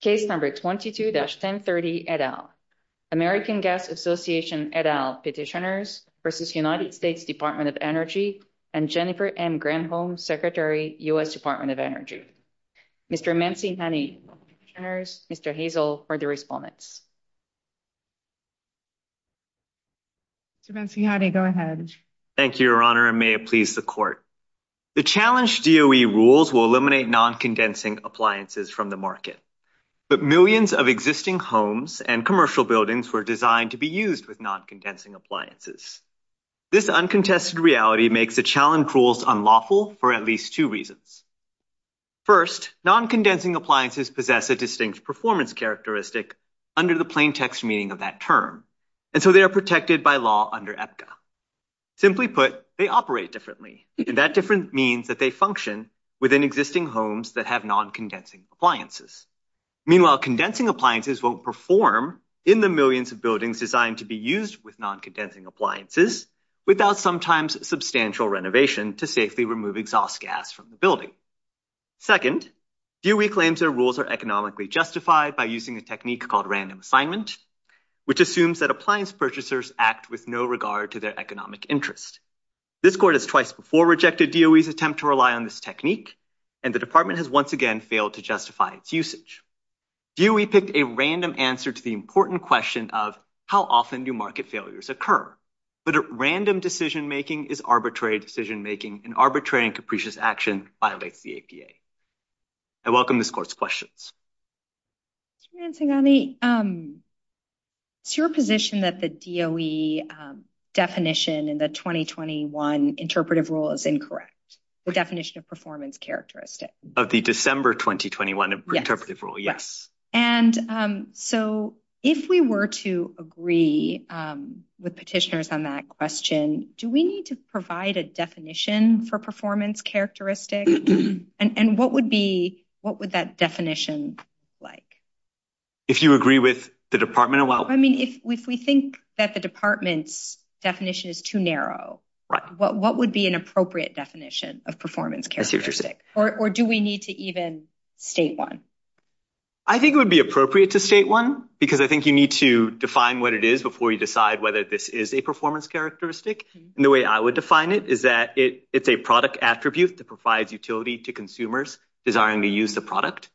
Case No. 22-1030, et al. American Gas Association, et al. Petitioners v. United States Department of Energy and Jennifer M. Granholm, Secretary, U.S. Department of Energy. Mr. Mansihani, Petitioners, Mr. Hazel, for the respondents. Mr. Mansihani, go ahead. Thank you, Your Honor, and may it please the Court. The challenged DOE rules will eliminate non-condensing appliances from the market, but millions of existing homes and commercial buildings were designed to be used with non-condensing appliances. This uncontested reality makes the challenged rules unlawful for at least two reasons. First, non-condensing appliances possess a distinct performance characteristic under the plain text meaning of that term, and so they are protected by law under EPCA. Simply put, they operate differently, and that different means that they function within existing homes that have non-condensing appliances. Meanwhile, condensing appliances won't perform in the millions of buildings designed to be used with non-condensing appliances without sometimes substantial renovation to safely remove exhaust gas from the building. Second, DOE claims their rules are economically justified by using a technique called random assignment, which assumes that appliance purchasers act with no regard to their economic interest. This Court has twice before rejected DOE's attempt to rely on this technique, and the Department has once again failed to justify its usage. DOE picked a random answer to the important question of how often do market failures occur, but random decision-making is arbitrary decision-making, and arbitrary and capricious action violates the APA. I welcome this Court's questions. Mr. Mancingani, it's your position that the DOE definition in the 2021 interpretive rule is incorrect, the definition of performance characteristic? Of the December 2021 interpretive rule, yes. And so if we were to agree with petitioners on that question, do we need to provide a definition for performance characteristic? And what would that definition be like? If you agree with the Department, well— I mean, if we think that the Department's definition is too narrow, what would be an appropriate definition of performance characteristic? Or do we need to even state one? I think it would be appropriate to state one, because I think you need to define what it is before you decide whether this is a performance characteristic. And the way I would define it is that it's a product attribute that provides utility to consumers desiring to use the product.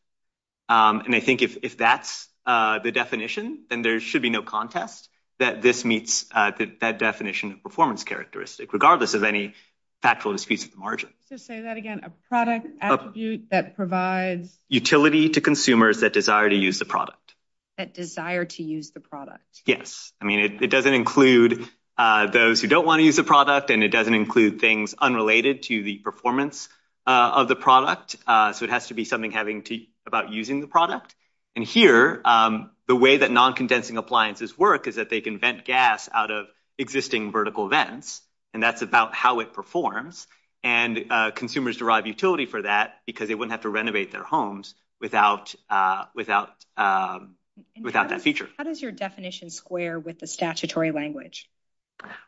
And I think if that's the definition, then there should be no contest that this meets that definition of performance characteristic, regardless of any factual disputes at the So say that again, a product attribute that provides— Utility to consumers that desire to use the product. That desire to use the product. Yes. I mean, it doesn't include those who don't want to use the product, and it doesn't include things unrelated to the performance of the product. So it has to be something having to—about using the product. And here, the way that non-condensing appliances work is that they can vent gas out of existing vertical vents, and that's about how it performs. And consumers derive utility for that, because they wouldn't have to renovate their homes without that feature. How does your definition square with the statutory language?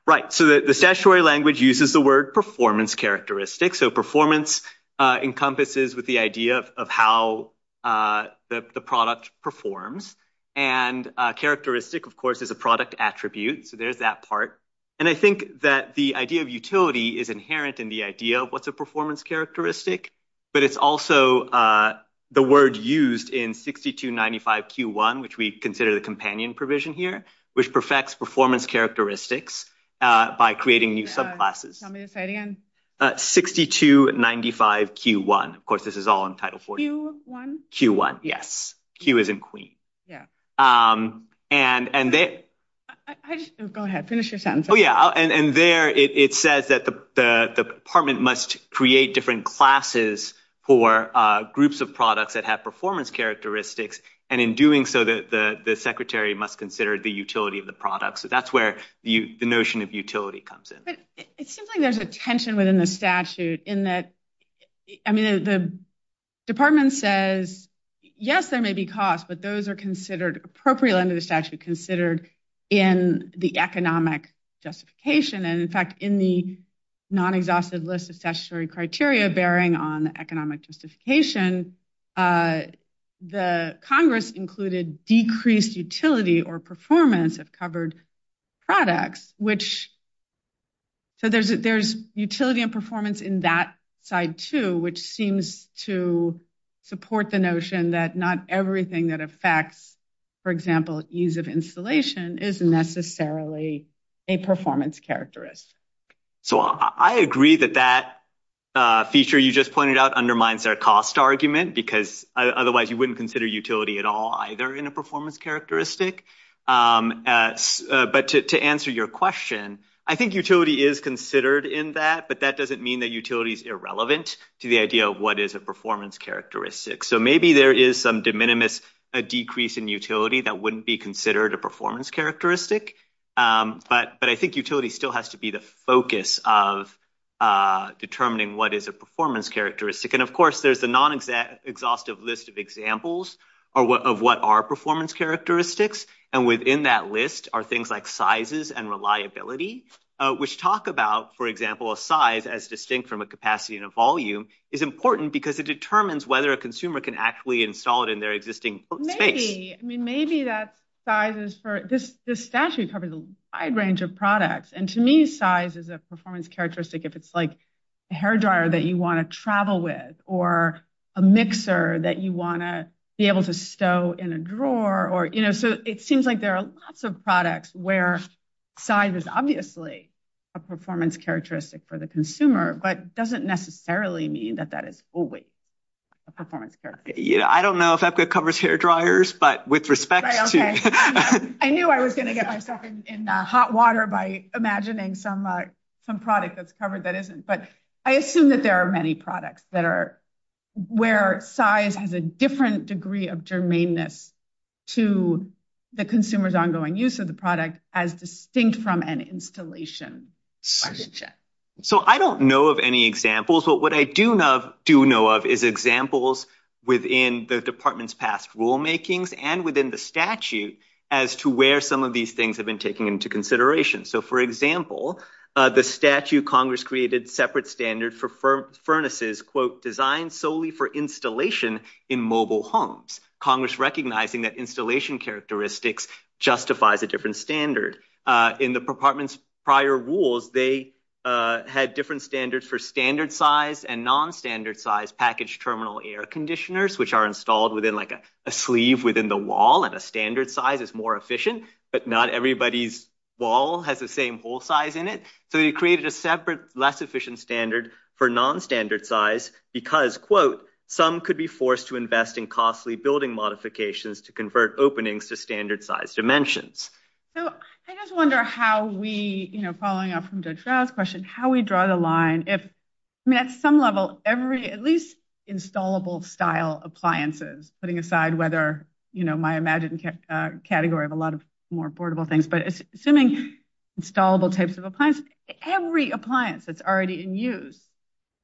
Right. So the statutory language uses the word performance characteristic. So performance encompasses with the idea of how the product performs. And characteristic, of course, is a product attribute. So there's that part. And I think that the idea of utility is inherent in the idea of what's a performance characteristic, but it's also the word used in 6295Q1, which we consider the companion provision here, which perfects performance characteristics by creating new subclasses. Tell me this again. 6295Q1. Of course, this is all in Title 40. Q1? Q1, yes. Q as in queen. Go ahead. Finish your sentence. Oh, yeah. And there, it says that the department must create different classes for groups of products that have performance characteristics, and in doing so, the secretary must consider the utility of the product. So that's where the notion of utility comes in. But it seems like there's a tension within the statute in that, I mean, the department says, yes, there may be costs, but those are considered, appropriate under the statute, considered in the economic justification. And in fact, in the non-exhaustive list of statutory criteria bearing on economic justification, the Congress included decreased utility or performance of covered products, which, so there's utility and performance in that side, too, which seems to support the notion that not everything that affects, for example, use of insulation is necessarily a performance characteristic. So, I agree that that feature you just pointed out undermines our cost argument, because otherwise, you wouldn't consider utility at all either in a performance characteristic. But to answer your question, I think utility is considered in that, but that doesn't mean that utility is irrelevant to the idea of what is a performance characteristic. So, maybe there is some de minimis, a decrease in utility that wouldn't be considered a performance characteristic, but I think utility still has to be the focus of determining what is a performance characteristic. And of course, there's a non-exhaustive list of examples of what are performance characteristics, and within that list are things like sizes and reliability, which talk about, for example, a size as distinct from a capacity and a volume is important because it determines whether a consumer can actually install it in their existing space. I mean, maybe that size is for... This statute covers a wide range of products, and to me, size is a performance characteristic if it's like a hairdryer that you want to travel with, or a mixer that you want to be able to stow in a drawer, or, you know, so it seems like there are lots of products where size is obviously a performance characteristic for the consumer, but doesn't necessarily mean that that is always a performance characteristic. I don't know if EPCA covers hairdryers, but with respect to... I knew I was going to get myself in hot water by imagining some product that's covered that isn't, but I assume that there are many products that are... where size has a different degree of germaneness to the consumer's ongoing use of the product as distinct from an installation relationship. So I don't know of any examples, but what I do know of is examples within the department's past rulemakings and within the statute as to where some of these things have been taken into consideration. So, for example, the statute Congress created separate standard for furnaces, quote, designed solely for installation in mobile homes, Congress recognizing that installation characteristics justifies a different standard. In the department's prior rules, they had different standards for standard size and non-standard size packaged terminal air conditioners, which are installed within like a sleeve within the wall, and a standard size is more efficient, but not everybody's wall has the same hole size in it. So they created a separate less efficient standard for non-standard size because, quote, some could be forced to invest in costly building modifications to convert openings to standard size dimensions. So I just wonder how we, you know, following up from Judge Rouse's question, how we draw the line if, I mean, at some level, every, at least installable style appliances, putting aside whether, you know, my imagined category of a lot of more affordable things, but assuming installable types of appliances, every appliance that's already in use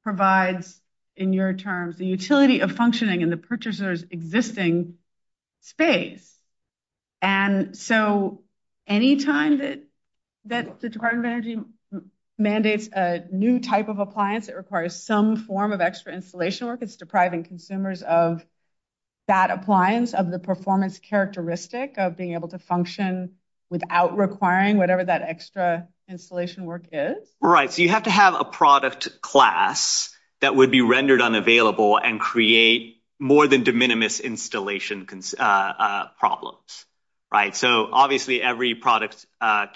provides, in your terms, the utility of functioning in the purchaser's existing space. And so any time that the Department of Energy mandates a new type of appliance that requires some form of extra installation work, it's depriving consumers of that appliance, of the performance characteristic of being able to function without requiring whatever that extra installation work is? Right. So you have to have a product class that would be rendered unavailable and create more than minimum installation problems, right? So obviously every product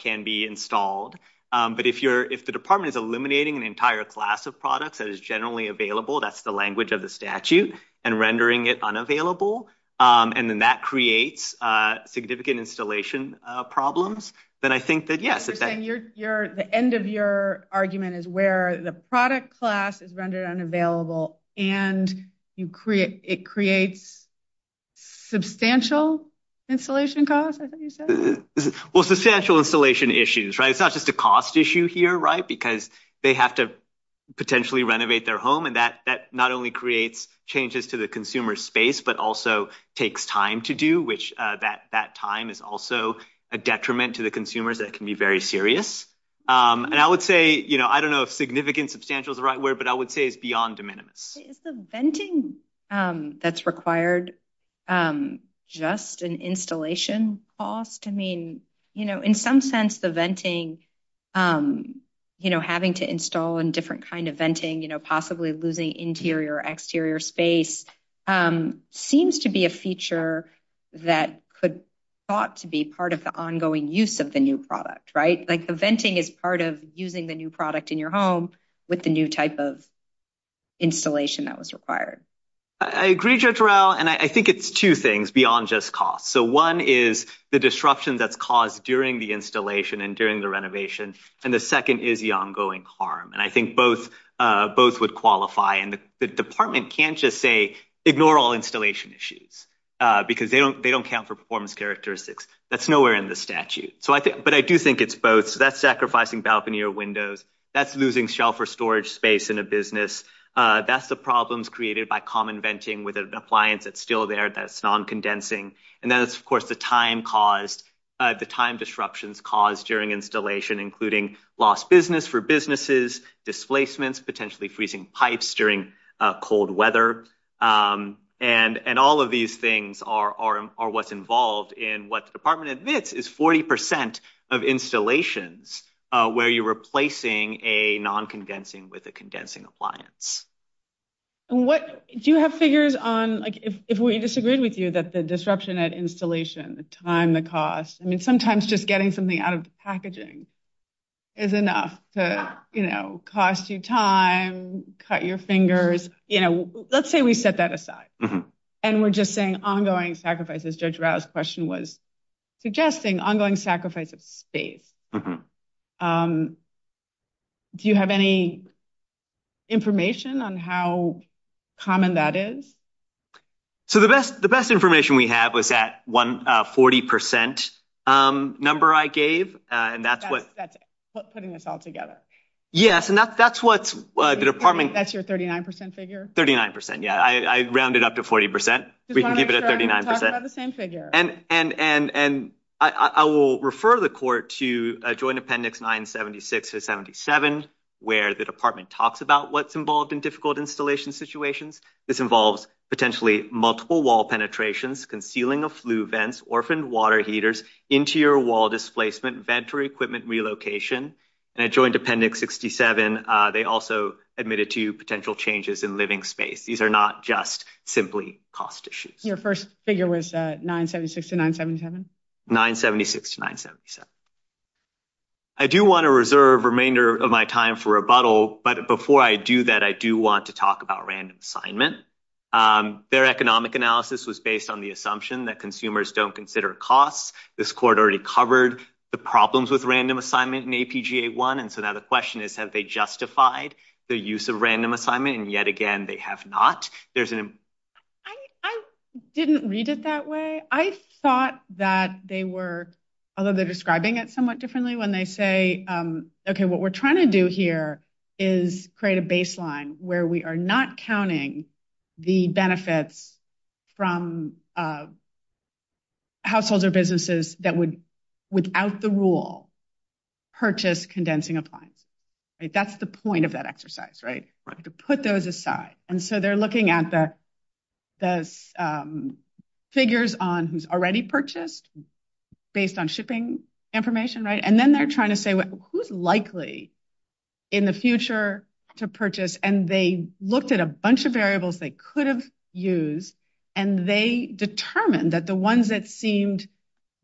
can be installed, but if you're, if the department is eliminating an entire class of products that is generally available, that's the language of the statute, and rendering it unavailable, and then that creates significant installation problems, then I think that, yes. You're saying you're, the end of your argument is where the product class is rendered unavailable and you create, it creates substantial installation costs, I thought you said? Well, substantial installation issues, right? It's not just a cost issue here, right? Because they have to potentially renovate their home, and that not only creates changes to the consumer's space, but also takes time to do, which that time is also a detriment to the consumers that can be very serious. And I would say, you know, I don't know if significant substantial is the right word, but I would say it's beyond de minimis. Is the venting that's required just an installation cost? I mean, you know, in some sense the venting, you know, having to install in different kind of venting, you know, possibly losing interior or exterior space seems to be a feature that could thought to be part of the ongoing use of the new product, right? Like the venting is part of using the new product in your home with the new type of installation that was required. I agree, Judge Rowell, and I think it's two things beyond just cost. So one is the disruption that's caused during the installation and during the renovation, and the second is the ongoing harm. And I think both would qualify, and the department can't just say, ignore all installation issues, because they don't count for performance characteristics. That's nowhere in the statute. But I do think it's both. So that's sacrificing balcony or windows. That's losing shelf or storage space in a business. That's the problems created by common venting with an appliance that's still there that's non-condensing. And then it's, of course, the time disruptions caused during installation, including lost business for businesses, displacements, potentially freezing pipes during cold weather. And all of these things are what's involved in what the department admits is 40% of installations where you're replacing a non-condensing with a condensing appliance. Do you have figures on, like, if we disagreed with you that the disruption at installation, the time, the cost, I mean, sometimes just getting something out of the packaging is enough to, you know, cost you time, cut your fingers. You know, let's say we set that aside and we're just saying ongoing sacrifices. Judge Rao's question was suggesting ongoing sacrifice of space. Do you have any information on how common that is? So the best the best information we have is that one 40% number I gave, and that's what putting this all together. Yes. And that's what the department. That's your 39 percent figure. Thirty nine percent. Yeah, I rounded up to 40 percent. We can give it a thirty nine percent of the same figure. And and and and I will refer the court to a joint appendix 976 to 77, where the department talks about what's involved in difficult installation situations. This involves potentially multiple wall penetrations, concealing of flue vents, orphaned water heaters, interior wall displacement, vent or equipment relocation. And I joined Appendix 67. They also admitted to potential changes in living space. These are not just simply cost issues. Your first figure was nine seventy six to nine seventy seven. Nine seventy six to nine seventy seven. I do want to reserve remainder of my time for rebuttal, but before I do that, I do want to talk about random assignment. Their economic analysis was based on the assumption that consumers don't consider costs. This court already covered the problems with random assignment. And APGA one. And so now the question is, have they justified the use of random assignment? And yet again, they have not. There's an I didn't read it that way. I thought that they were although they're describing it somewhat differently when they say, OK, what we're trying to do here is create a baseline where we are not counting the benefits from. Of. Households or businesses that would, without the rule, purchase condensing appliance, that's the point of that exercise, right, to put those aside, and so they're looking at the the figures on who's already purchased based on shipping information. Right. And then they're trying to say, well, who's likely in the future to purchase? And they looked at a bunch of variables they could have used, and they determined that the ones that seemed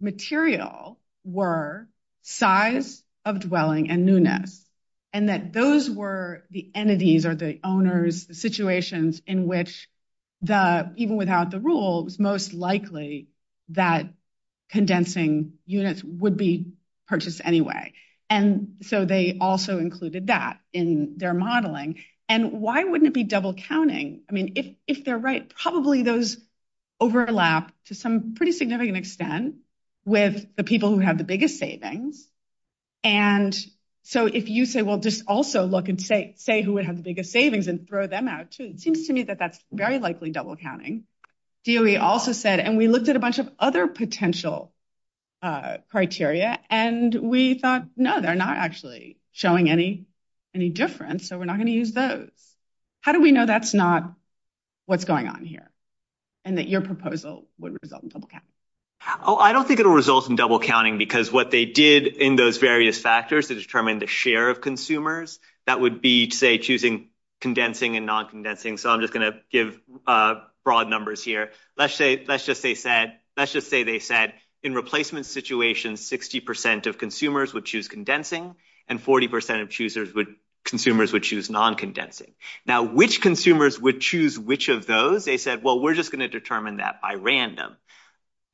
material were size of dwelling and newness and that those were the entities or the owners, the situations in which the even without the rules, most likely that condensing units would be purchased anyway. And so they also included that in their modeling. And why wouldn't it be double counting? I mean, if if they're right, probably those overlap to some pretty significant extent with the people who have the biggest savings. And so if you say, well, just also look and say, say who would have the biggest savings and throw them out, it seems to me that that's very likely double counting. Do we also said and we looked at a bunch of other potential criteria and we thought no, they're not actually showing any any difference. So we're not going to use those. How do we know that's not what's going on here and that your proposal would result in double count? Oh, I don't think it'll result in double counting because what they did in those various factors to determine the share of consumers, that would be, say, choosing condensing and non condensing. So I'm just going to give broad numbers here. Let's say let's just say said let's just say they said in replacement situations, 60 percent of consumers would choose condensing and 40 percent of choosers would consumers would choose non condensing. Now, which consumers would choose which of those? They said, well, we're just going to determine that by random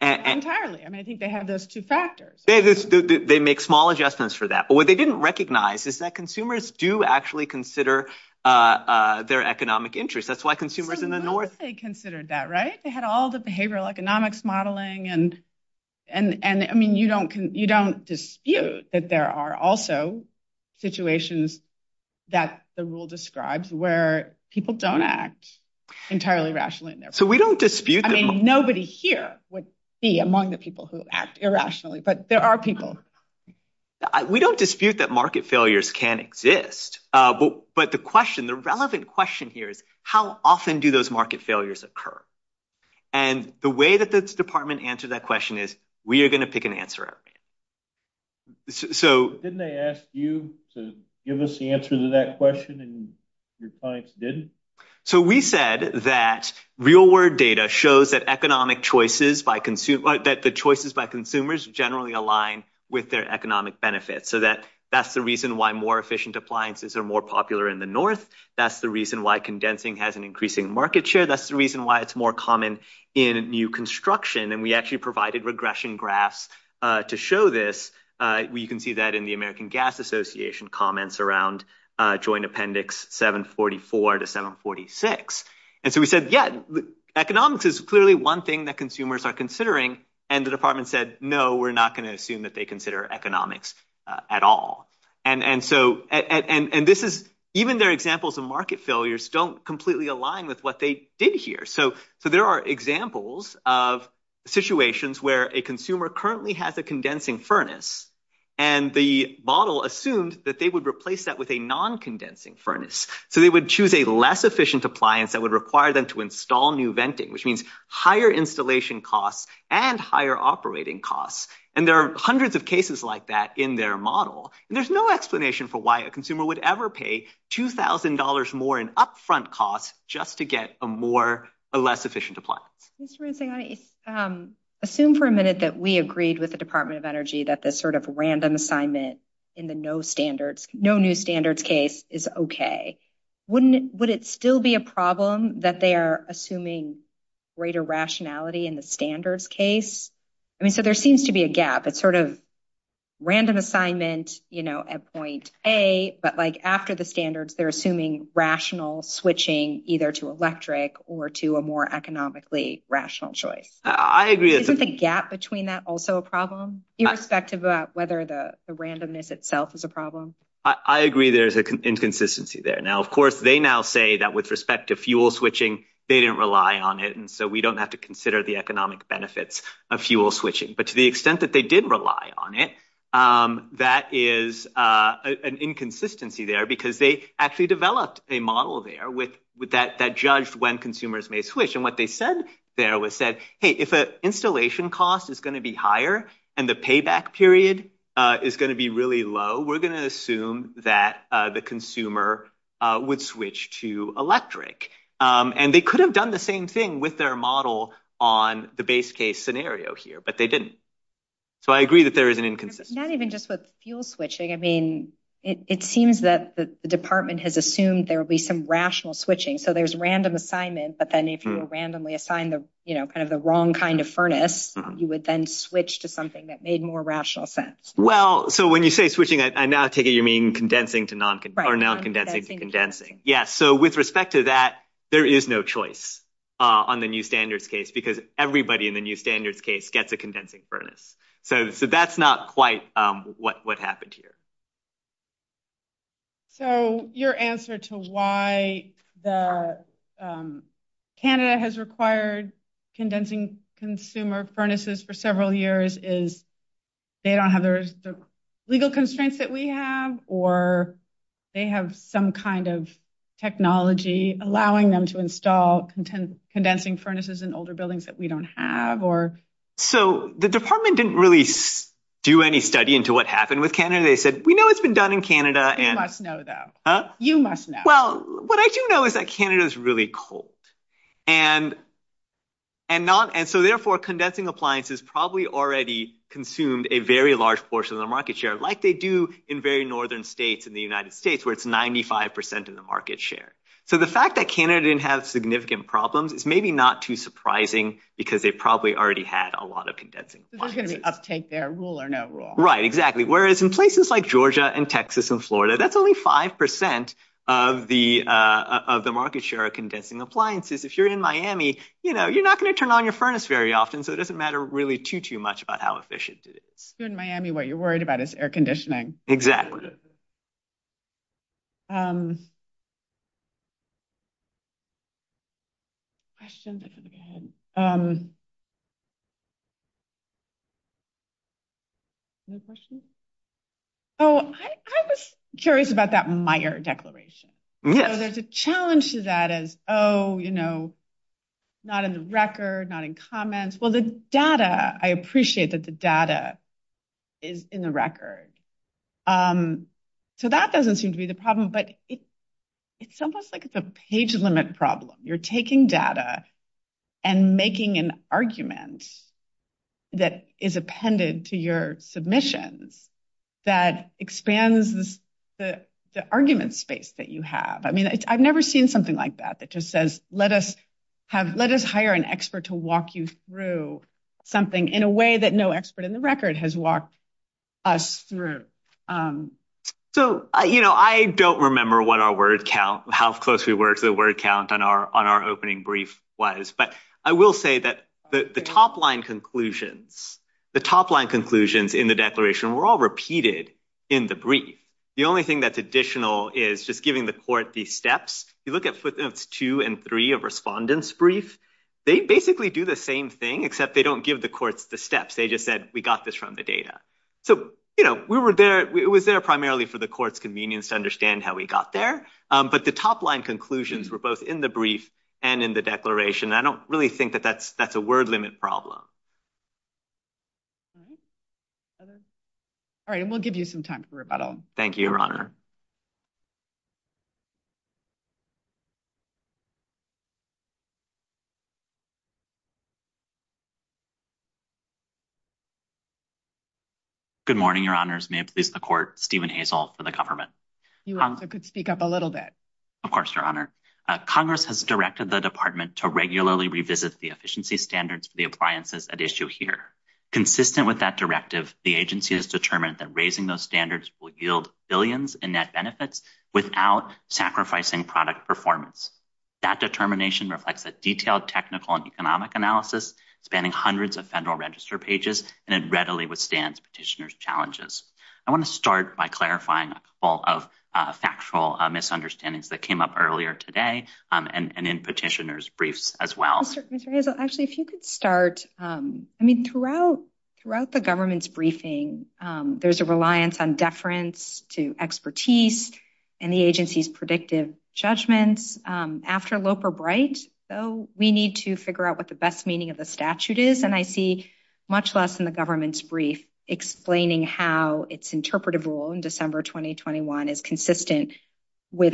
and entirely. I mean, I think they have those two factors. They make small adjustments for that. But what they didn't recognize is that consumers do actually consider their economic interest. That's why consumers in the north considered that. Right. They had all the behavioral economics modeling and and I mean, you don't you don't dispute that there are also situations that the rule describes where people don't act entirely rationally. So we don't dispute. I mean, nobody here would be among the people who act irrationally, but there are people. We don't dispute that market failures can exist. But the question, the relevant question here is how often do those market failures occur? And the way that the department answered that question is we are going to pick an answer. So didn't they ask you to give us the answer to that question and your clients didn't. So we said that real world data shows that economic choices by consumer that the choices by consumers generally align with their economic benefits so that that's the reason why more efficient appliances are more popular in the north. That's the reason why condensing has an increasing market share. That's the reason why it's more common in new construction. And we actually provided regression graphs to show this. You can see that in the American Gas Association comments around joint appendix 744 to 746. And so we said, yeah, economics is clearly one thing that consumers are considering. And the department said, no, we're not going to assume that they consider economics at all. And so and this is even their examples of market failures don't completely align with what they did here. So so there are examples of situations where a consumer currently has a condensing furnace and the model assumed that they would replace that with a non-condensing furnace. So they would choose a less efficient appliance that would require them to install new venting, which means higher installation costs and higher operating costs. And there are hundreds of cases like that in their model. And there's no explanation for why a consumer would ever pay two thousand dollars more in front costs just to get a more or less efficient appliance. Mr. Ransing, I assume for a minute that we agreed with the Department of Energy that this sort of random assignment in the no standards, no new standards case is OK. Wouldn't it still be a problem that they are assuming greater rationality in the standards case? I mean, so there seems to be a gap. It's sort of random assignment, you know, at point A, but like after the standards, they're assuming rational switching either to electric or to a more economically rational choice. I agree. Isn't the gap between that also a problem, irrespective of whether the randomness itself is a problem? I agree there is an inconsistency there. Now, of course, they now say that with respect to fuel switching, they didn't rely on it. And so we don't have to consider the economic benefits of fuel switching. But to the extent that they did rely on it, that is an inconsistency there because they actually developed a model there with that that judged when consumers may switch. And what they said there was said, hey, if an installation cost is going to be higher and the payback period is going to be really low, we're going to assume that the consumer would switch to electric. And they could have done the same thing with their model on the base case scenario here, but they didn't. So I agree that there is an inconsistency. Not even just with fuel switching, I mean, it seems that the department has assumed there will be some rational switching. So there's random assignment. But then if you randomly assign the, you know, kind of the wrong kind of furnace, you would then switch to something that made more rational sense. Well, so when you say switching, I now take it you mean condensing to non-condensing condensing. Yes. So with respect to that, there is no choice on the new standards case because everybody in the new standards case gets a condensing furnace. So that's not quite what happened here. So your answer to why the Canada has required condensing consumer furnaces for several years is they don't have the legal constraints that we have, or they have some kind of technology allowing them to install condensing furnaces in older buildings that we don't have. So the department didn't really do any study into what happened with Canada. They said, we know it's been done in Canada. And you must know that you must know. Well, what I do know is that Canada is really cold and. And not and so therefore, condensing appliances probably already consumed a very large portion of the market share like they do in very northern states in the United States where it's 95 percent of the market share. So the fact that Canada didn't have significant problems is maybe not too surprising because they probably already had a lot of condensing. There's going to be uptake there. Rule or no rule. Right, exactly. Whereas in places like Georgia and Texas and Florida, that's only 5 percent of the of the market share of condensing appliances. If you're in Miami, you know, you're not going to turn on your furnace very often. So it doesn't matter really too, too much about how efficient it is. In Miami, what you're worried about is air conditioning. Exactly. I shouldn't have to go ahead. No question. Oh, I was curious about that Meyer declaration, so there's a challenge to that as, oh, you know, not in the record, not in comments. Well, the data, I appreciate that the data is in the record, so that doesn't seem to be the problem. But it's almost like it's a page limit problem. You're taking data and making an argument that is appended to your submissions that expands the argument space that you have. I mean, I've never seen something like that. That just says, let us have let us hire an expert to walk you through something in a way that no expert in the record has walked us through. So, you know, I don't remember what our word count, how close we were to the word count on our on our opening brief was. But I will say that the top line conclusions, the top line conclusions in the declaration were all repeated in the brief. The only thing that's additional is just giving the court these steps. You look at footnotes two and three of respondents brief. They basically do the same thing, except they don't give the courts the steps. They just said we got this from the data. So, you know, we were there. It was there primarily for the court's convenience to understand how we got there. But the top line conclusions were both in the brief and in the declaration. I don't really think that that's that's a word limit problem. All right, and we'll give you some time for rebuttal. Thank you, Your Honor. Good morning, Your Honors. May it please the court, Stephen Hazel for the government. You could speak up a little bit. Of course, Your Honor. Congress has directed the department to regularly revisit the efficiency standards for the appliances at issue here. Consistent with that directive, the agency has determined that raising those standards will yield billions in net benefits without sacrificing product performance. That determination reflects a detailed technical and economic analysis spanning hundreds of federal register pages, and it readily withstands petitioner's challenges. I want to start by clarifying all of factual misunderstandings that came up earlier today and in petitioner's briefs as well. Actually, if you could start. I mean, throughout throughout the government's briefing, there's a reliance on deference to expertise and the agency's predictive judgments. After Loper Bright, though, we need to figure out what the best meaning of the statute is, and I see much less in the government's brief explaining how its interpretive rule in December 2021 is consistent with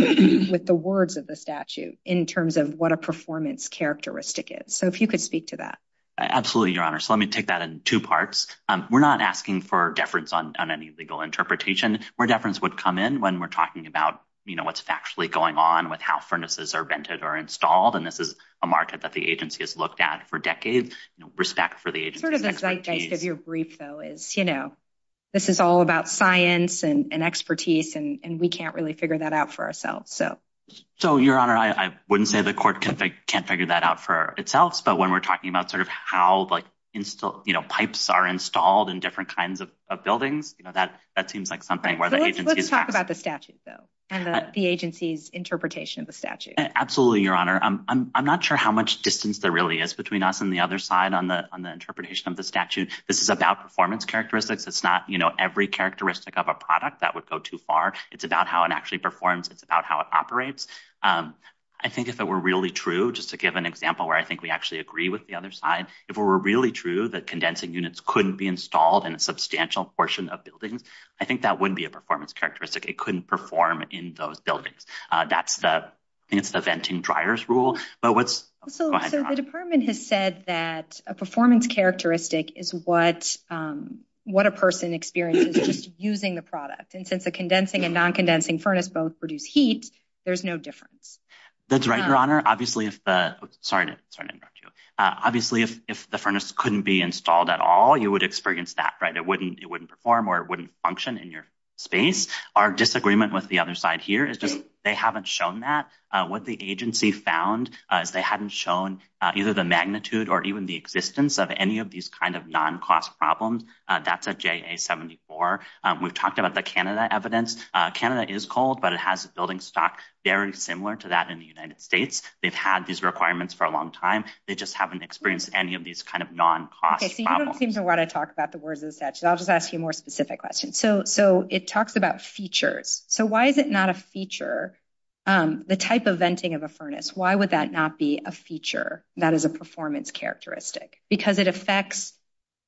with the words of the statute in terms of what a performance characteristic is. So if you could speak to that. Absolutely, Your Honor. So let me take that in two parts. We're not asking for deference on any legal interpretation where deference would come in when we're talking about what's factually going on with how furnaces are vented or installed. And this is a market that the agency has looked at for decades. Respect for the agency. Sort of the zeitgeist of your brief, though, is, you know, this is all about science and expertise, and we can't really figure that out for ourselves. So. So, Your Honor, I wouldn't say the court can't figure that out for itself. But when we're talking about sort of how pipes are installed in different kinds of buildings, you know, that that seems like something where the agency is talking about the statute, though, and the agency's interpretation of the statute. Absolutely, Your Honor. I'm not sure how much distance there really is between us and the other side on the on the interpretation of the statute. This is about performance characteristics. It's not, you know, every characteristic of a product that would go too far. It's about how it actually performs. It's about how it operates. I think if it were really true, just to give an example where I think we actually agree with the other side, if we were really true that condensing units couldn't be installed in a substantial portion of buildings, I think that wouldn't be a performance characteristic. It couldn't perform in those buildings. That's the it's the venting dryers rule. But what's so the department has said that a performance characteristic is what what a person experiences just using the product. And since the condensing and non-condensing furnace both produce heat, there's no difference. That's right, Your Honor. Obviously, if the sorry to interrupt you, obviously, if the furnace couldn't be installed at all, you would experience that, right? It wouldn't it wouldn't perform or it wouldn't function in your space. Our disagreement with the other side here is just they haven't shown that what the agency found is they hadn't shown either the magnitude or even the existence of any of these kind of non-cost problems. That's a J.A. 74. We've talked about the Canada evidence. Canada is cold, but it has a building stock very similar to that in the United States. They've had these requirements for a long time. They just haven't experienced any of these kind of non-cost. So you don't seem to want to talk about the words of the statute. I'll just ask you a more specific question. So so it talks about features. So why is it not a feature, the type of venting of a furnace? Why would that not be a feature that is a performance characteristic? Because it affects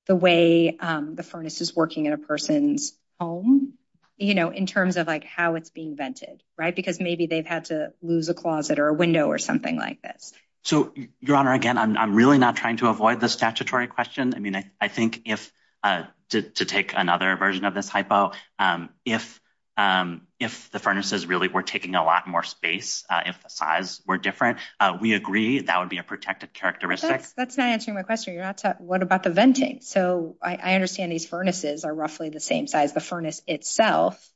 the way the furnace is working in a person's home, you know, in terms of like how it's being vented, right? Because maybe they've had to lose a closet or a window or something like this. So, Your Honor, again, I'm really not trying to avoid the statutory question. I mean, I think if to take another version of this hypo, if if the furnaces really were taking a lot more space, if the size were different, we agree that would be a protective characteristic. That's not answering my question. You're not. What about the venting? So I understand these furnaces are roughly the same size, the furnace itself.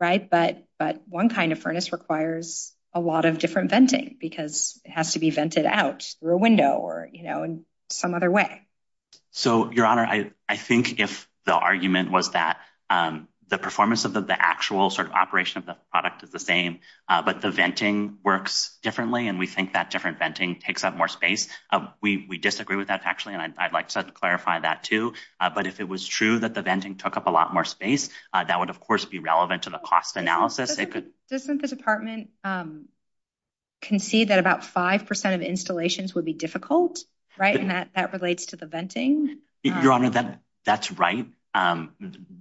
Right. But but one kind of furnace requires a lot of different venting because it has to be vented out through a window or, you know, in some other way. So, Your Honor, I think if the argument was that the performance of the actual sort of operation of the product is the same, but the venting works differently and we think that different venting takes up more space, we disagree with that, actually. And I'd like to clarify that, too. But if it was true that the venting took up a lot more space, that would, of course, be relevant to the cost analysis. Doesn't the department concede that about five percent of installations would be difficult, right? And that that relates to the venting. Your Honor, that that's right.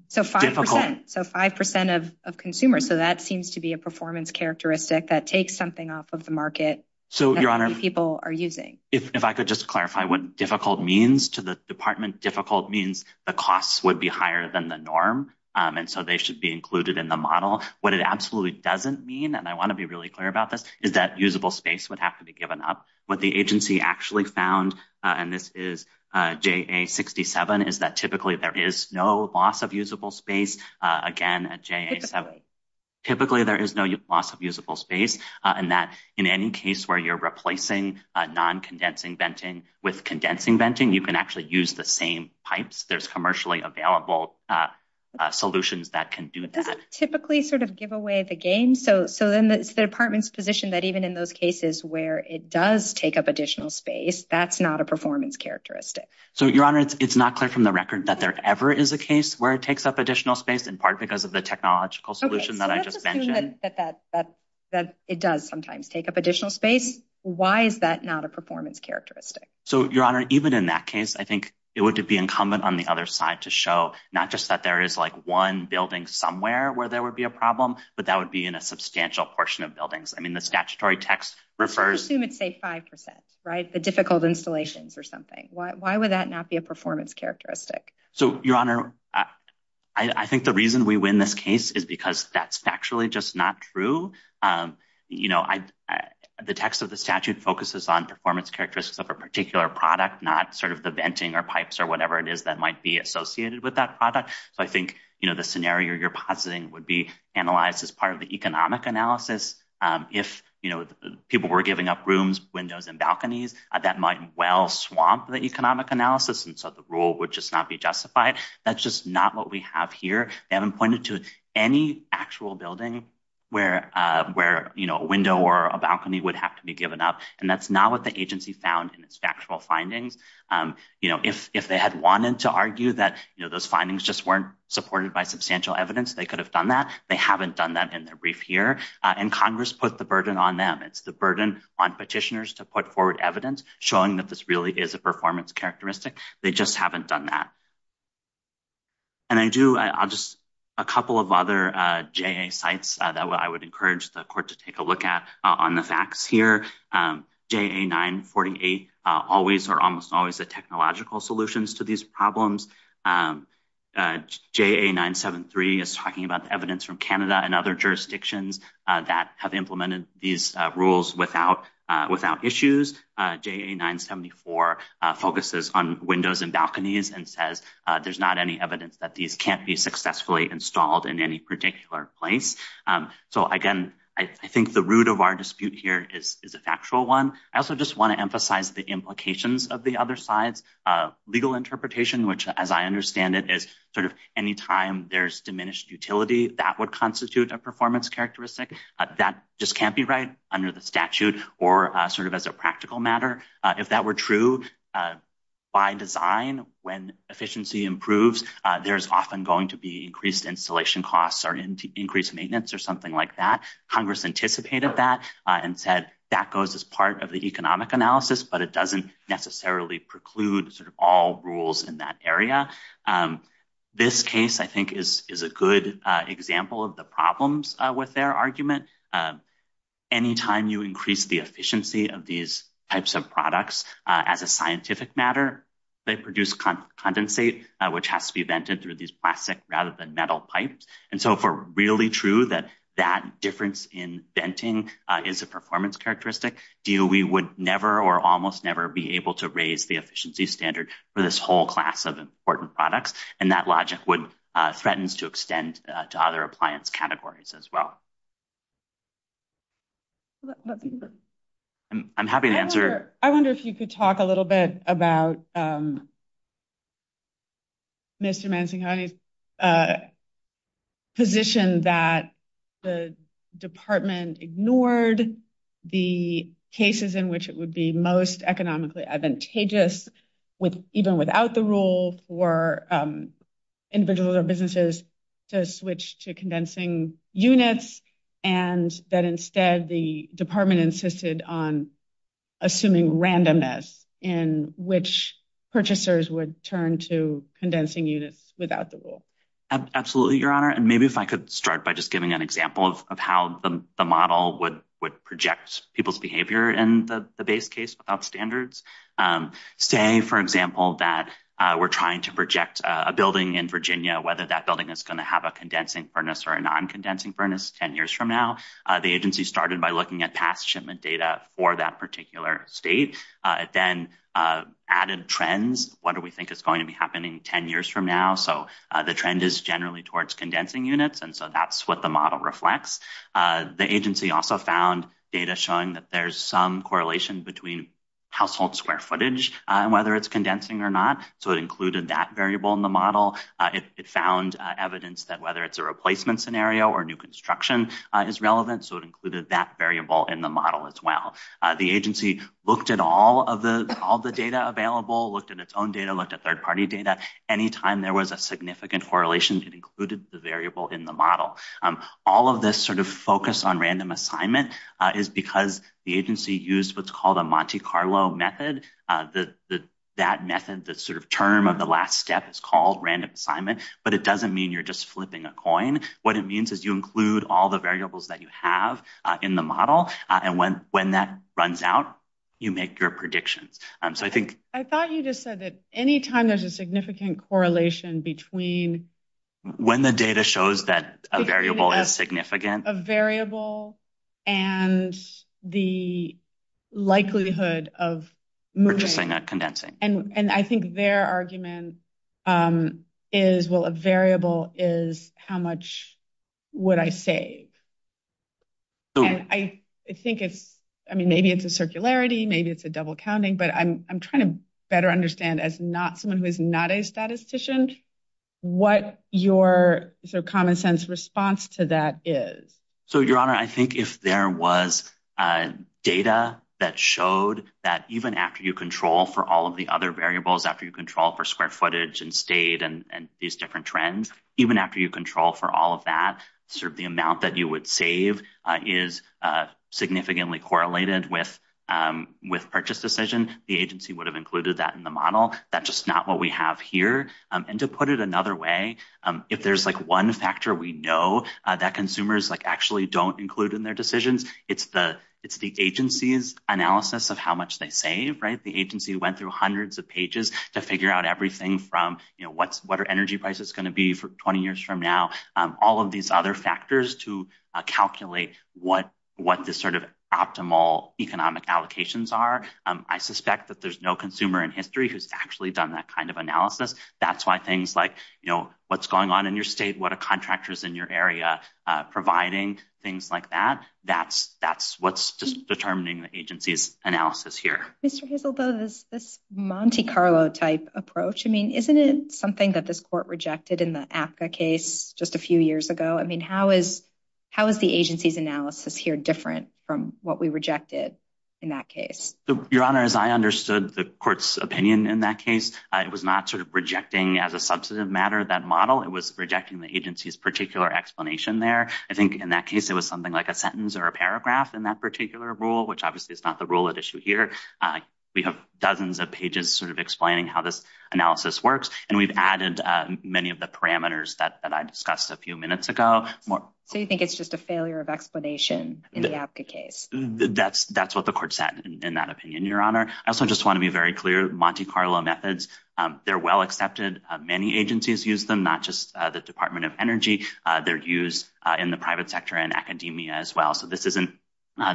So five percent. So five percent of of consumers. So that seems to be a performance characteristic that takes something off of the market. So, Your Honor, people are using if I could just clarify what difficult means to the department. Difficult means the costs would be higher than the norm. And so they should be included in the model. What it absolutely doesn't mean, and I want to be really clear about this, is that usable space would have to be given up. What the agency actually found, and this is J.A. 67, is that typically there is no loss of usable space. Again, at J.A. Typically, there is no loss of usable space and that in any case where you're replacing non-condensing venting with condensing venting, you can actually use the same pipes. There's commercially available solutions that can do that. Typically sort of give away the game. So so then it's the department's position that even in those cases where it does take up additional space, that's not a performance characteristic. So, Your Honor, it's not clear from the record that there ever is a case where it takes up additional space, in part because of the technological solution that I just mentioned that that that it does sometimes take up additional space. Why is that not a performance characteristic? So, Your Honor, even in that case, I think it would be incumbent on the other side to show not just that there is like one building somewhere where there would be a problem, but that would be in a substantial portion of buildings. I mean, the statutory text refers to, let's say, five percent, right? The difficult installations or something. Why would that not be a performance characteristic? So, Your Honor, I think the reason we win this case is because that's factually just not true. You know, the text of the statute focuses on performance characteristics of a particular product, not sort of the venting or pipes or whatever it is that might be associated with that product. So I think the scenario you're positing would be analyzed as part of the economic analysis. If people were giving up rooms, windows and balconies, that might well swamp the economic analysis. And so the rule would just not be justified. That's just not what we have here. They haven't pointed to any actual building where a window or a balcony would have to be given up. And that's not what the agency found in its factual findings. You know, if they had wanted to argue that those findings just weren't supported by substantial evidence, they could have done that. They haven't done that in their brief here. And Congress put the burden on them. It's the burden on petitioners to put forward evidence showing that this really is a performance characteristic. They just haven't done that. And I do, I'll just a couple of other JA sites that I would encourage the court to take a look at on the facts here. JA 948 always or almost always the technological solutions to these problems. JA 973 is talking about the evidence from Canada and other jurisdictions that have implemented these rules without issues. JA 974 focuses on windows and balconies and says there's not any evidence that these can't be successfully installed in any particular place. So, again, I think the root of our dispute here is a factual one. I also just want to emphasize the implications of the other sides. Legal interpretation, which, as I understand it, is sort of any time there's diminished utility, that would constitute a performance characteristic that just can't be right under the statute or sort of as a practical matter. If that were true, by design, when efficiency improves, there's often going to be increased installation costs or increased maintenance or something like that. Congress anticipated that and said that goes as part of the economic analysis, but it doesn't necessarily preclude sort of all rules in that area. This case, I think, is a good example of the problems with their argument. Any time you increase the efficiency of these types of products as a scientific matter, they produce condensate, which has to be vented through these plastic rather than metal pipes. And so if we're really true that that difference in venting is a performance characteristic, DOE would never or almost never be able to raise the efficiency standard for this whole class of important products. And that logic would threaten to extend to other appliance categories as well. I'm happy to answer, I wonder if you could talk a little bit about Mr. Mancini's position that the department ignored the cases in which it would be most economically advantageous with even without the rule for individuals or businesses to switch to condensing units. And that instead the department insisted on assuming randomness in which purchasers would turn to condensing units without the rule. Absolutely, Your Honor. And maybe if I could start by just giving an example of how the model would would project people's behavior in the base case without standards. Say, for example, that we're trying to project a building in Virginia, whether that building is going to have a condensing furnace or a non-condensing furnace 10 years from now. The agency started by looking at past shipment data for that particular state, then added trends. What do we think is going to be happening 10 years from now? So the trend is generally towards condensing units. And so that's what the model reflects. The agency also found data showing that there's some correlation between household square footage and whether it's condensing or not. So it included that variable in the model. It found evidence that whether it's a replacement scenario or new construction is relevant. So it included that variable in the model as well. The agency looked at all of the all the data available, looked at its own data, looked at third party data. Anytime there was a significant correlation, it included the variable in the model. All of this sort of focus on random assignment is because the agency used what's called a Monte Carlo method. The that method, the sort of term of the last step is called random assignment, but it doesn't mean you're just flipping a coin. What it means is you include all the variables that you have in the model. And when when that runs out, you make your predictions. So I think I thought you just said that any time there's a significant correlation between when the data shows that a variable is significant, a variable and the likelihood of condensing. And and I think their argument is, well, a variable is how much would I save? I think it's I mean, maybe it's a circularity, maybe it's a double counting, but I'm trying to better understand as not someone who is not a statistician what your sort of common sense response to that is. So, Your Honor, I think if there was data that showed that even after you control for all of the other variables, after you control for square footage and state and these different trends, even after you control for all of that, sort of the amount that you would save is significantly correlated with with purchase decision. The agency would have included that in the model. That's just not what we have here. And to put it another way, if there's like one factor we know that consumers like actually don't include in their decisions, it's the it's the agency's analysis of how much they save. Right. The agency went through hundreds of pages to figure out everything from what's what our energy price is going to be for 20 years from now. All of these other factors to calculate what what the sort of optimal economic allocations are. I suspect that there's no consumer in history who's actually done that kind of analysis. That's why things like, you know, what's going on in your state, what a contractor is in your area providing things like that. That's that's what's determining the agency's analysis here. Mr. Hazel, though, this this Monte Carlo type approach, I mean, isn't it something that this court rejected in the AFCA case just a few years ago? I mean, how is how is the agency's analysis here different from what we rejected in that case? Your Honor, as I understood the court's opinion in that case. It was not sort of rejecting as a substantive matter that model. It was rejecting the agency's particular explanation there. I think in that case it was something like a sentence or a paragraph in that particular rule, which obviously is not the rule at issue here. We have dozens of pages sort of explaining how this analysis works. And we've added many of the parameters that I discussed a few minutes ago. So you think it's just a failure of explanation in the AFCA case? That's that's what the court said in that opinion, Your Honor. I also just want to be very clear. Monte Carlo methods, they're well accepted. Many agencies use them, not just the Department of Energy. They're used in the private sector and academia as well. So this isn't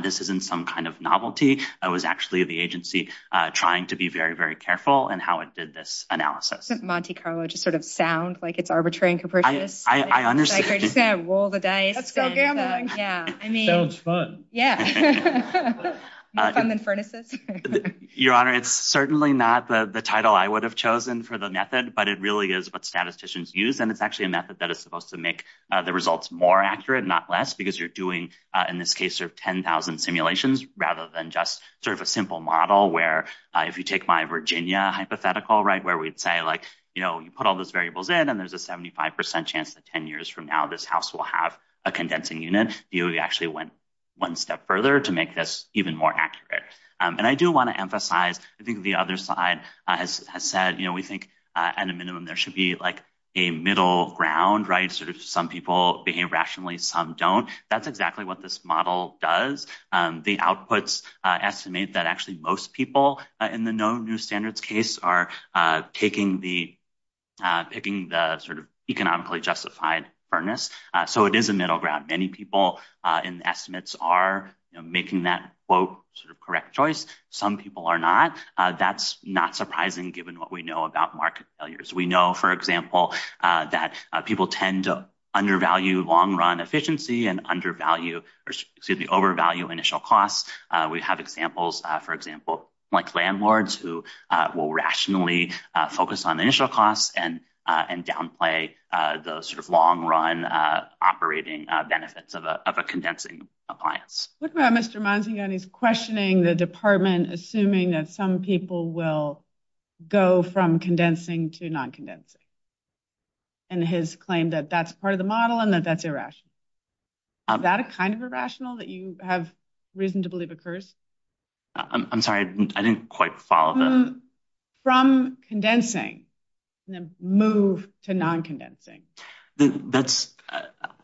this isn't some kind of novelty. It was actually the agency trying to be very, very careful in how it did this analysis. Monte Carlo just sort of sound like it's arbitrary and capricious. I understand. Roll the dice. Yeah, I mean, it's fun. Yeah, more fun than furnaces. Your Honor, it's certainly not the title I would have chosen for the method, but it really is what statisticians use. And it's actually a method that is supposed to make the results more accurate, not less because you're doing, in this case, sort of 10,000 simulations rather than just sort of a simple model where if you take my Virginia hypothetical, right, where we'd say like, you know, you put all those variables in and there's a 75 percent chance that 10 years from now, this house will have a condensing unit. You actually went one step further to make this even more accurate. And I do want to emphasize, I think the other side has said, you know, we think at a minimum there should be like a middle ground. Right. Sort of some people behave rationally. Some don't. That's exactly what this model does. The outputs estimate that actually most people in the no new standards case are taking the picking the sort of economically justified earnest. So it is a middle ground. Many people in the estimates are making that quote sort of correct choice. Some people are not. That's not surprising given what we know about market failures. We know, for example, that people tend to undervalue long run efficiency and undervalue or overvalue initial costs. We have examples, for example, like landlords who will rationally focus on initial costs and and downplay the sort of long run operating benefits of a condensing appliance. What about Mr. Monsignor, he's questioning the department, assuming that some people will go from condensing to non-condensing. And his claim that that's part of the model and that that's irrational. Is that a kind of irrational that you have risen to believe occurs? I'm sorry, I didn't quite follow. From condensing move to non-condensing. That's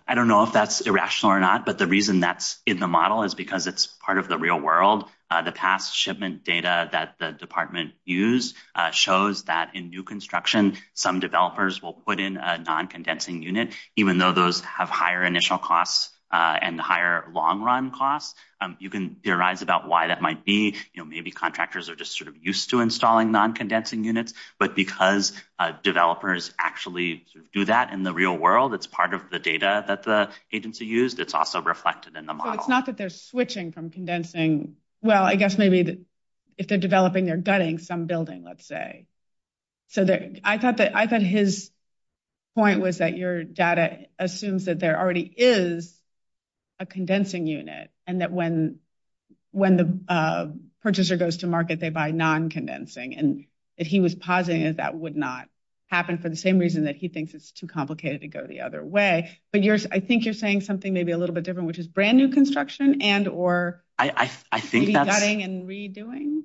I don't know if that's irrational or not, but the reason that's in the model is because it's part of the real world. The past shipment data that the department used shows that in new construction, some developers will put in a non-condensing unit, even though those have higher initial costs and higher long run costs. You can theorize about why that might be. You know, maybe contractors are just sort of used to installing non-condensing units. But because developers actually do that in the real world, it's part of the data that the agency used. It's also reflected in the model. It's not that they're switching from condensing. Well, I guess maybe if they're developing, they're gutting some building, let's say. So I thought that I thought his point was that your data assumes that there already is a condensing unit and that when when the purchaser goes to market, they buy non-condensing. And if he was positive that would not happen for the same reason that he thinks it's too complicated to go the other way. But I think you're saying something maybe a little bit different, which is brand new construction and or gutting and redoing.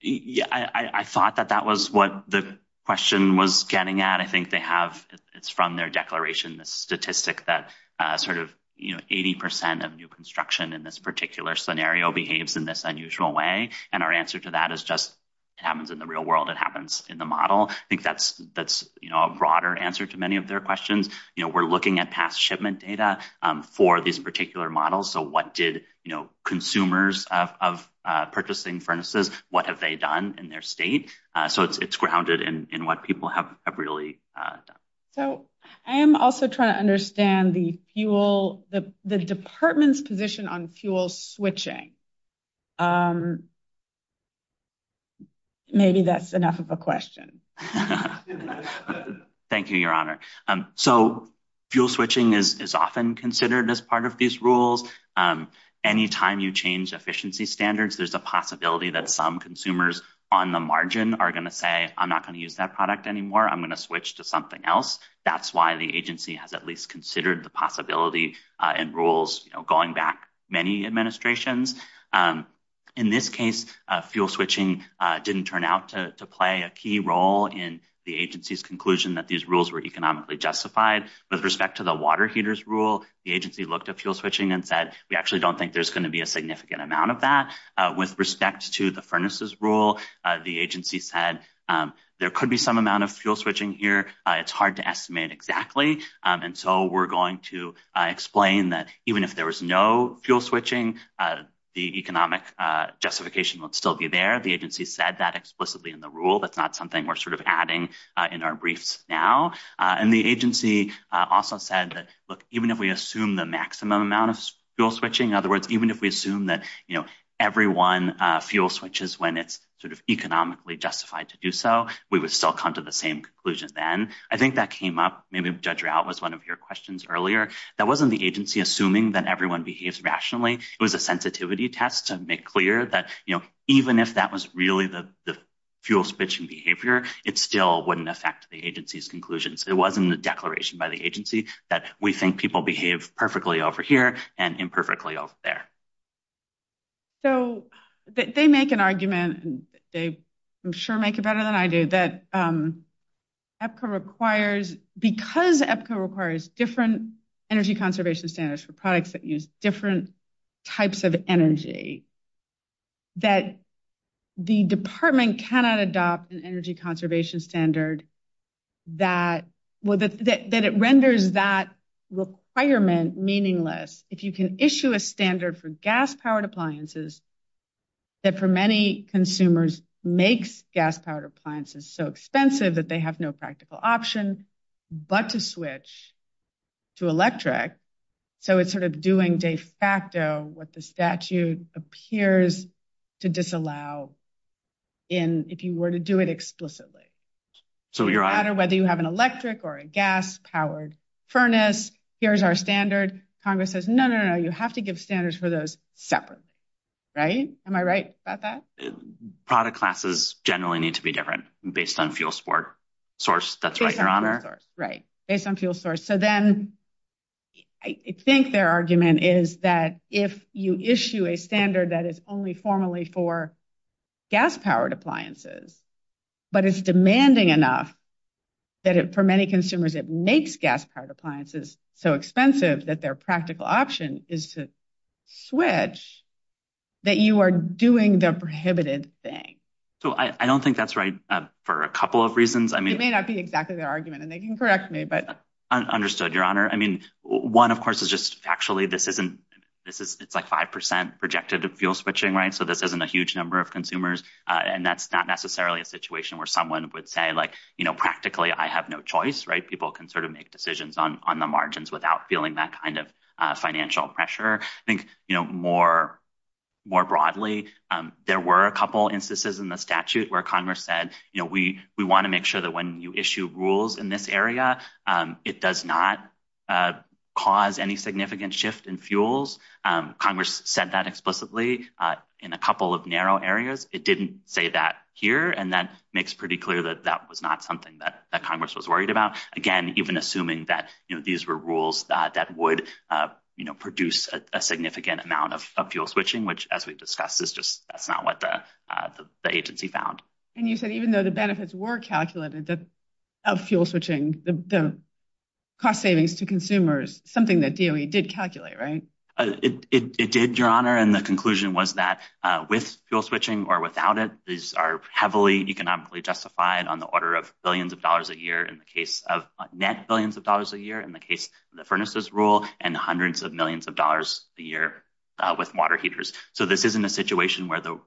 Yeah, I thought that that was what the question was getting at. I think they have it's from their declaration, the statistic that sort of 80 percent of new construction in this particular scenario behaves in this unusual way. And our answer to that is just it happens in the real world. It happens in the model. I think that's that's a broader answer to many of their questions. You know, we're looking at past shipment data for these particular models. So what did consumers of purchasing furnaces? What have they done in their state? So it's grounded in what people have really done. So I am also trying to understand the fuel, the department's position on fuel switching. Maybe that's enough of a question. Thank you, Your Honor. So fuel switching is often considered as part of these rules. Anytime you change efficiency standards, there's a possibility that some consumers on the margin are going to say, I'm not going to use that product anymore. I'm going to switch to something else. That's why the agency has at least considered the possibility and rules going back many administrations. In this case, fuel switching didn't turn out to play a key role in the agency's conclusion that these rules were economically justified with respect to the water heaters rule. The agency looked at fuel switching and said, we actually don't think there's going to be a significant amount of that with respect to the furnaces rule. The agency said there could be some amount of fuel switching here. It's hard to estimate exactly. And so we're going to explain that even if there was no fuel switching, the economic justification would still be there. The agency said that explicitly in the rule. That's not something we're sort of adding in our briefs now. And the agency also said that, look, even if we assume the maximum amount of fuel switching, in other words, even if we assume that, you know, everyone fuel switches when it's sort of economically justified to do so, we would still come to the same conclusion. Then I think that came up. Maybe Judge Rout was one of your questions earlier. That wasn't the agency assuming that everyone behaves rationally. It was a sensitivity test to make clear that, you know, even if that was really the fuel switching behavior, it still wouldn't affect the agency's conclusions. It wasn't a declaration by the agency that we think people behave perfectly over here and imperfectly over there. So they make an argument, they I'm sure make it better than I do, that EPCO requires because EPCO requires different energy conservation standards for products that use different types of energy, that the department cannot adopt an energy conservation standard that it renders that requirement meaningless. If you can issue a standard for gas powered appliances that for many consumers makes gas powered appliances so expensive that they have no practical option but to switch to electric. So it's sort of doing de facto what the statute appears to disallow in if you were to do it explicitly. So no matter whether you have an electric or a gas powered furnace, here's our standard. Congress says, no, no, no, no. You have to give standards for those separate. Right. Am I right about that? Product classes generally need to be different based on fuel source. That's right, Your Honor. Right. Based on fuel source. So then I think their argument is that if you issue a standard that is only formally for gas powered appliances, but it's demanding enough that for many consumers it makes gas powered appliances so expensive that their practical option is to switch, that you are doing the prohibited thing. So I don't think that's right for a couple of reasons. I mean, it may not be exactly their argument and they can correct me. Understood, Your Honor. I mean, one, of course, is just actually this isn't this is it's like five percent projected fuel switching, right? So this isn't a huge number of consumers. And that's not necessarily a situation where someone would say, like, you know, practically I have no choice. Right. People can sort of make decisions on the margins without feeling that kind of financial pressure. I think, you know, more more broadly, there were a couple instances in the statute where Congress said, you know, we we want to make sure that when you issue rules in this area, it does not cause any significant shift in fuels. Congress said that explicitly in a couple of narrow areas. It didn't say that here. And that makes pretty clear that that was not something that that Congress was worried about. Again, even assuming that these were rules that would produce a significant amount of fuel switching, which, as we discussed, is just that's not what the agency found. And you said even though the benefits were calculated, that of fuel switching, the cost savings to consumers, something that DOE did calculate. Right. It did, Your Honor. And the conclusion was that with fuel switching or without it, these are heavily economically justified on the order of billions of dollars a year in the case of net billions of dollars a year in the case of the furnaces rule and hundreds of millions of dollars a year with water heaters. So this isn't a situation where the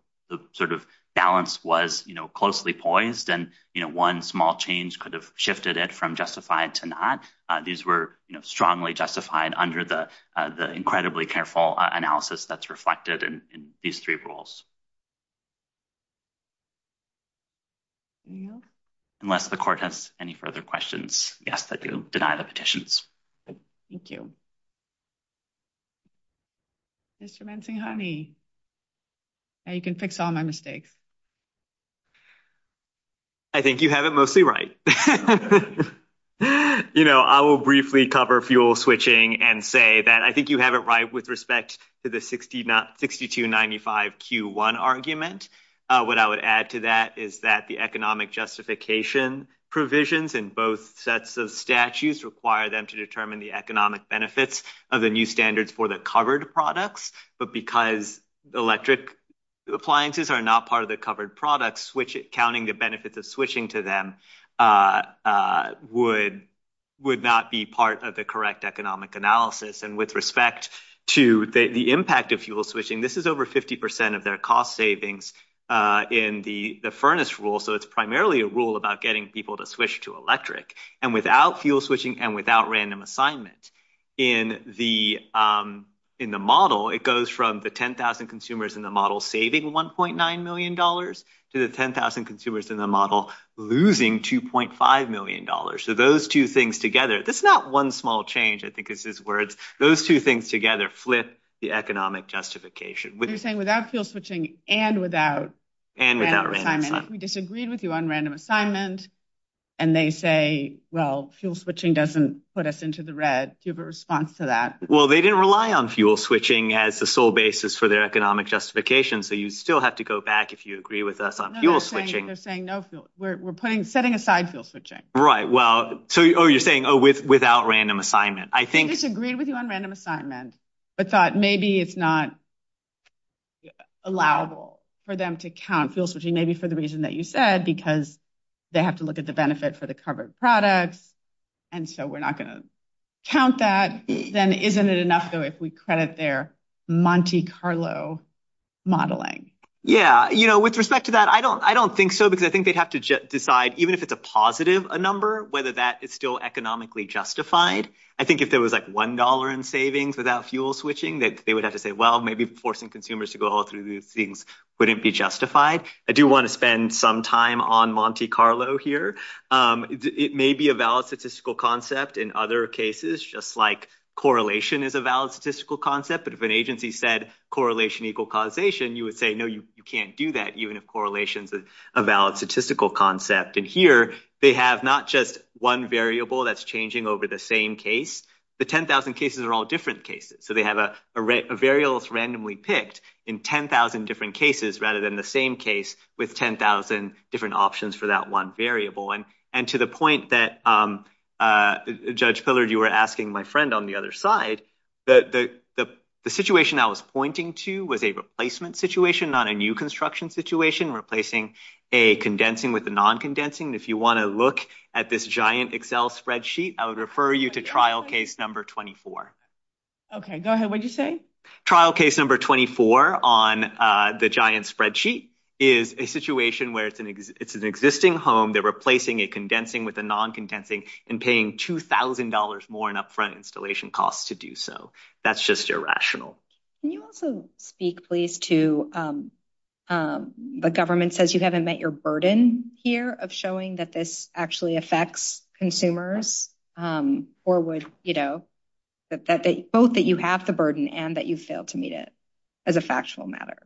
sort of balance was closely poised and one small change could have shifted it from justified to not. These were strongly justified under the the incredibly careful analysis that's reflected in these three rules. Unless the court has any further questions, yes, they do deny the petitions. Thank you. Mr. Honey. You can fix all my mistakes. I think you have it mostly right. You know, I will briefly cover fuel switching and say that I think you have it right with respect to the sixty not sixty two ninety five Q1 argument. What I would add to that is that the economic justification provisions in both sets of statutes require them to determine the economic benefits of the new standards for the covered products. But because electric appliances are not part of the covered products, which counting the benefits of switching to them would would not be part of the correct economic analysis. And with respect to the impact of fuel switching, this is over 50 percent of their cost savings in the furnace rule. So it's primarily a rule about getting people to switch to electric and without fuel switching and without random assignment in the in the model. It goes from the 10,000 consumers in the model saving one point nine million dollars to the 10,000 consumers in the model losing two point five million dollars. So those two things together, that's not one small change. I think this is where it's those two things together flip the economic justification. What are you saying without fuel switching and without and without we disagreed with you on random assignment and they say, well, fuel switching doesn't put us into the red. Do you have a response to that? Well, they didn't rely on fuel switching as the sole basis for their economic justification. So you still have to go back if you agree with us on fuel switching. They're saying no fuel. We're putting setting aside fuel switching. Right. Well, so you're saying, oh, with without random assignment, I think it's agreed with you on random assignment, but thought maybe it's not. Allowable for them to count fuel switching, maybe for the reason that you said, because they have to look at the benefit for the covered products. And so we're not going to count that, then isn't it enough, though, if we credit their Monte Carlo modeling? Yeah. You know, with respect to that, I don't I don't think so, because I think they'd have to decide even if it's a positive number, whether that is still economically justified. I think if there was like one dollar in savings without fuel switching, that they would have to say, well, maybe forcing consumers to go through these things wouldn't be justified. I do want to spend some time on Monte Carlo here. It may be a valid statistical concept in other cases, just like correlation is a valid statistical concept. But if an agency said correlation equal causation, you would say, no, you can't do that even if correlation is a valid statistical concept. And here they have not just one variable that's changing over the same case. The 10,000 cases are all different cases. So they have a variable randomly picked in 10,000 different cases rather than the same case with 10,000 different options for that one variable. And and to the point that Judge Pillard, you were asking my friend on the other side, that the situation I was pointing to was a replacement situation on a new construction situation, replacing a condensing with a non condensing. If you want to look at this giant Excel spreadsheet, I would refer you to trial case number 24. Okay, go ahead. What'd you say? Trial case number 24 on the giant spreadsheet is a situation where it's an it's an existing home. They're replacing a condensing with a non condensing and paying two thousand dollars more in upfront installation costs to do so. That's just irrational. Can you also speak, please, to the government says you haven't met your burden here of showing that this actually affects consumers or would, you know, that both that you have the burden and that you fail to meet it as a factual matter.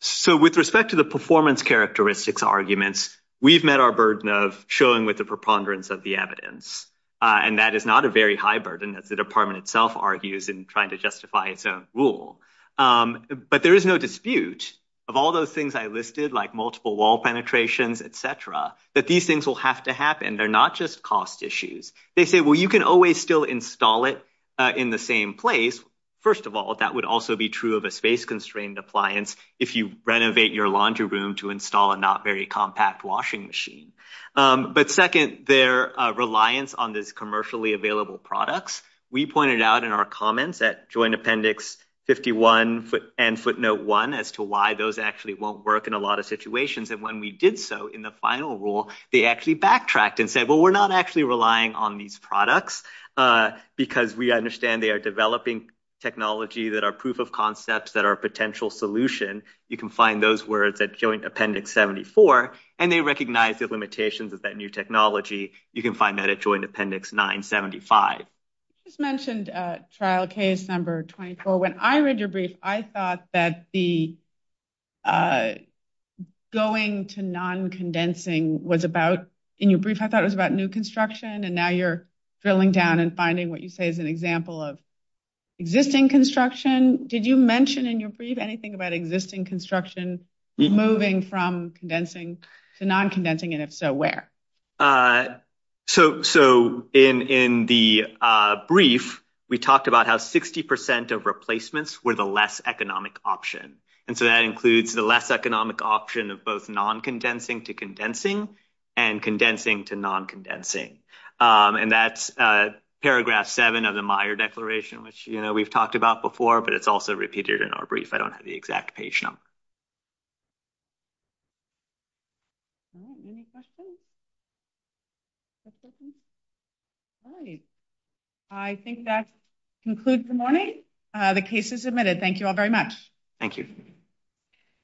So with respect to the performance characteristics arguments, we've met our burden of showing with the preponderance of the evidence, and that is not a very high burden, as the department itself argues in trying to justify its own rule. But there is no dispute of all those things I listed, like multiple wall penetrations, etc., that these things will have to happen. They're not just cost issues. They say, well, you can always still install it in the same place. First of all, that would also be true of a space constrained appliance if you renovate your laundry room to install a not very compact washing machine. But second, their reliance on this commercially available products we pointed out in our comments at Joint Appendix 51 and Footnote 1 as to why those actually won't work in a lot of situations. And when we did so in the final rule, they actually backtracked and said, well, we're not actually relying on these products because we understand they are developing technology that are proof of concepts that are a potential solution. You can find those words at Joint Appendix 74, and they recognize the limitations of that new technology. You can find that at Joint Appendix 975. You just mentioned trial case number 24. When I read your brief, I thought that the going to non-condensing was about, in your brief, I thought it was about new construction. And now you're drilling down and finding what you say is an example of existing construction. Did you mention in your brief anything about existing construction moving from condensing to non-condensing? And if so, where? So in the brief, we talked about how 60 percent of replacements were the less economic option. And so that includes the less economic option of both non-condensing to condensing and condensing to non-condensing. And that's paragraph 7 of the Meyer Declaration, which we've talked about before, but it's also repeated in our brief. I don't have the exact page number. I think that concludes the morning. The case is admitted. Thank you all very much. Thank you.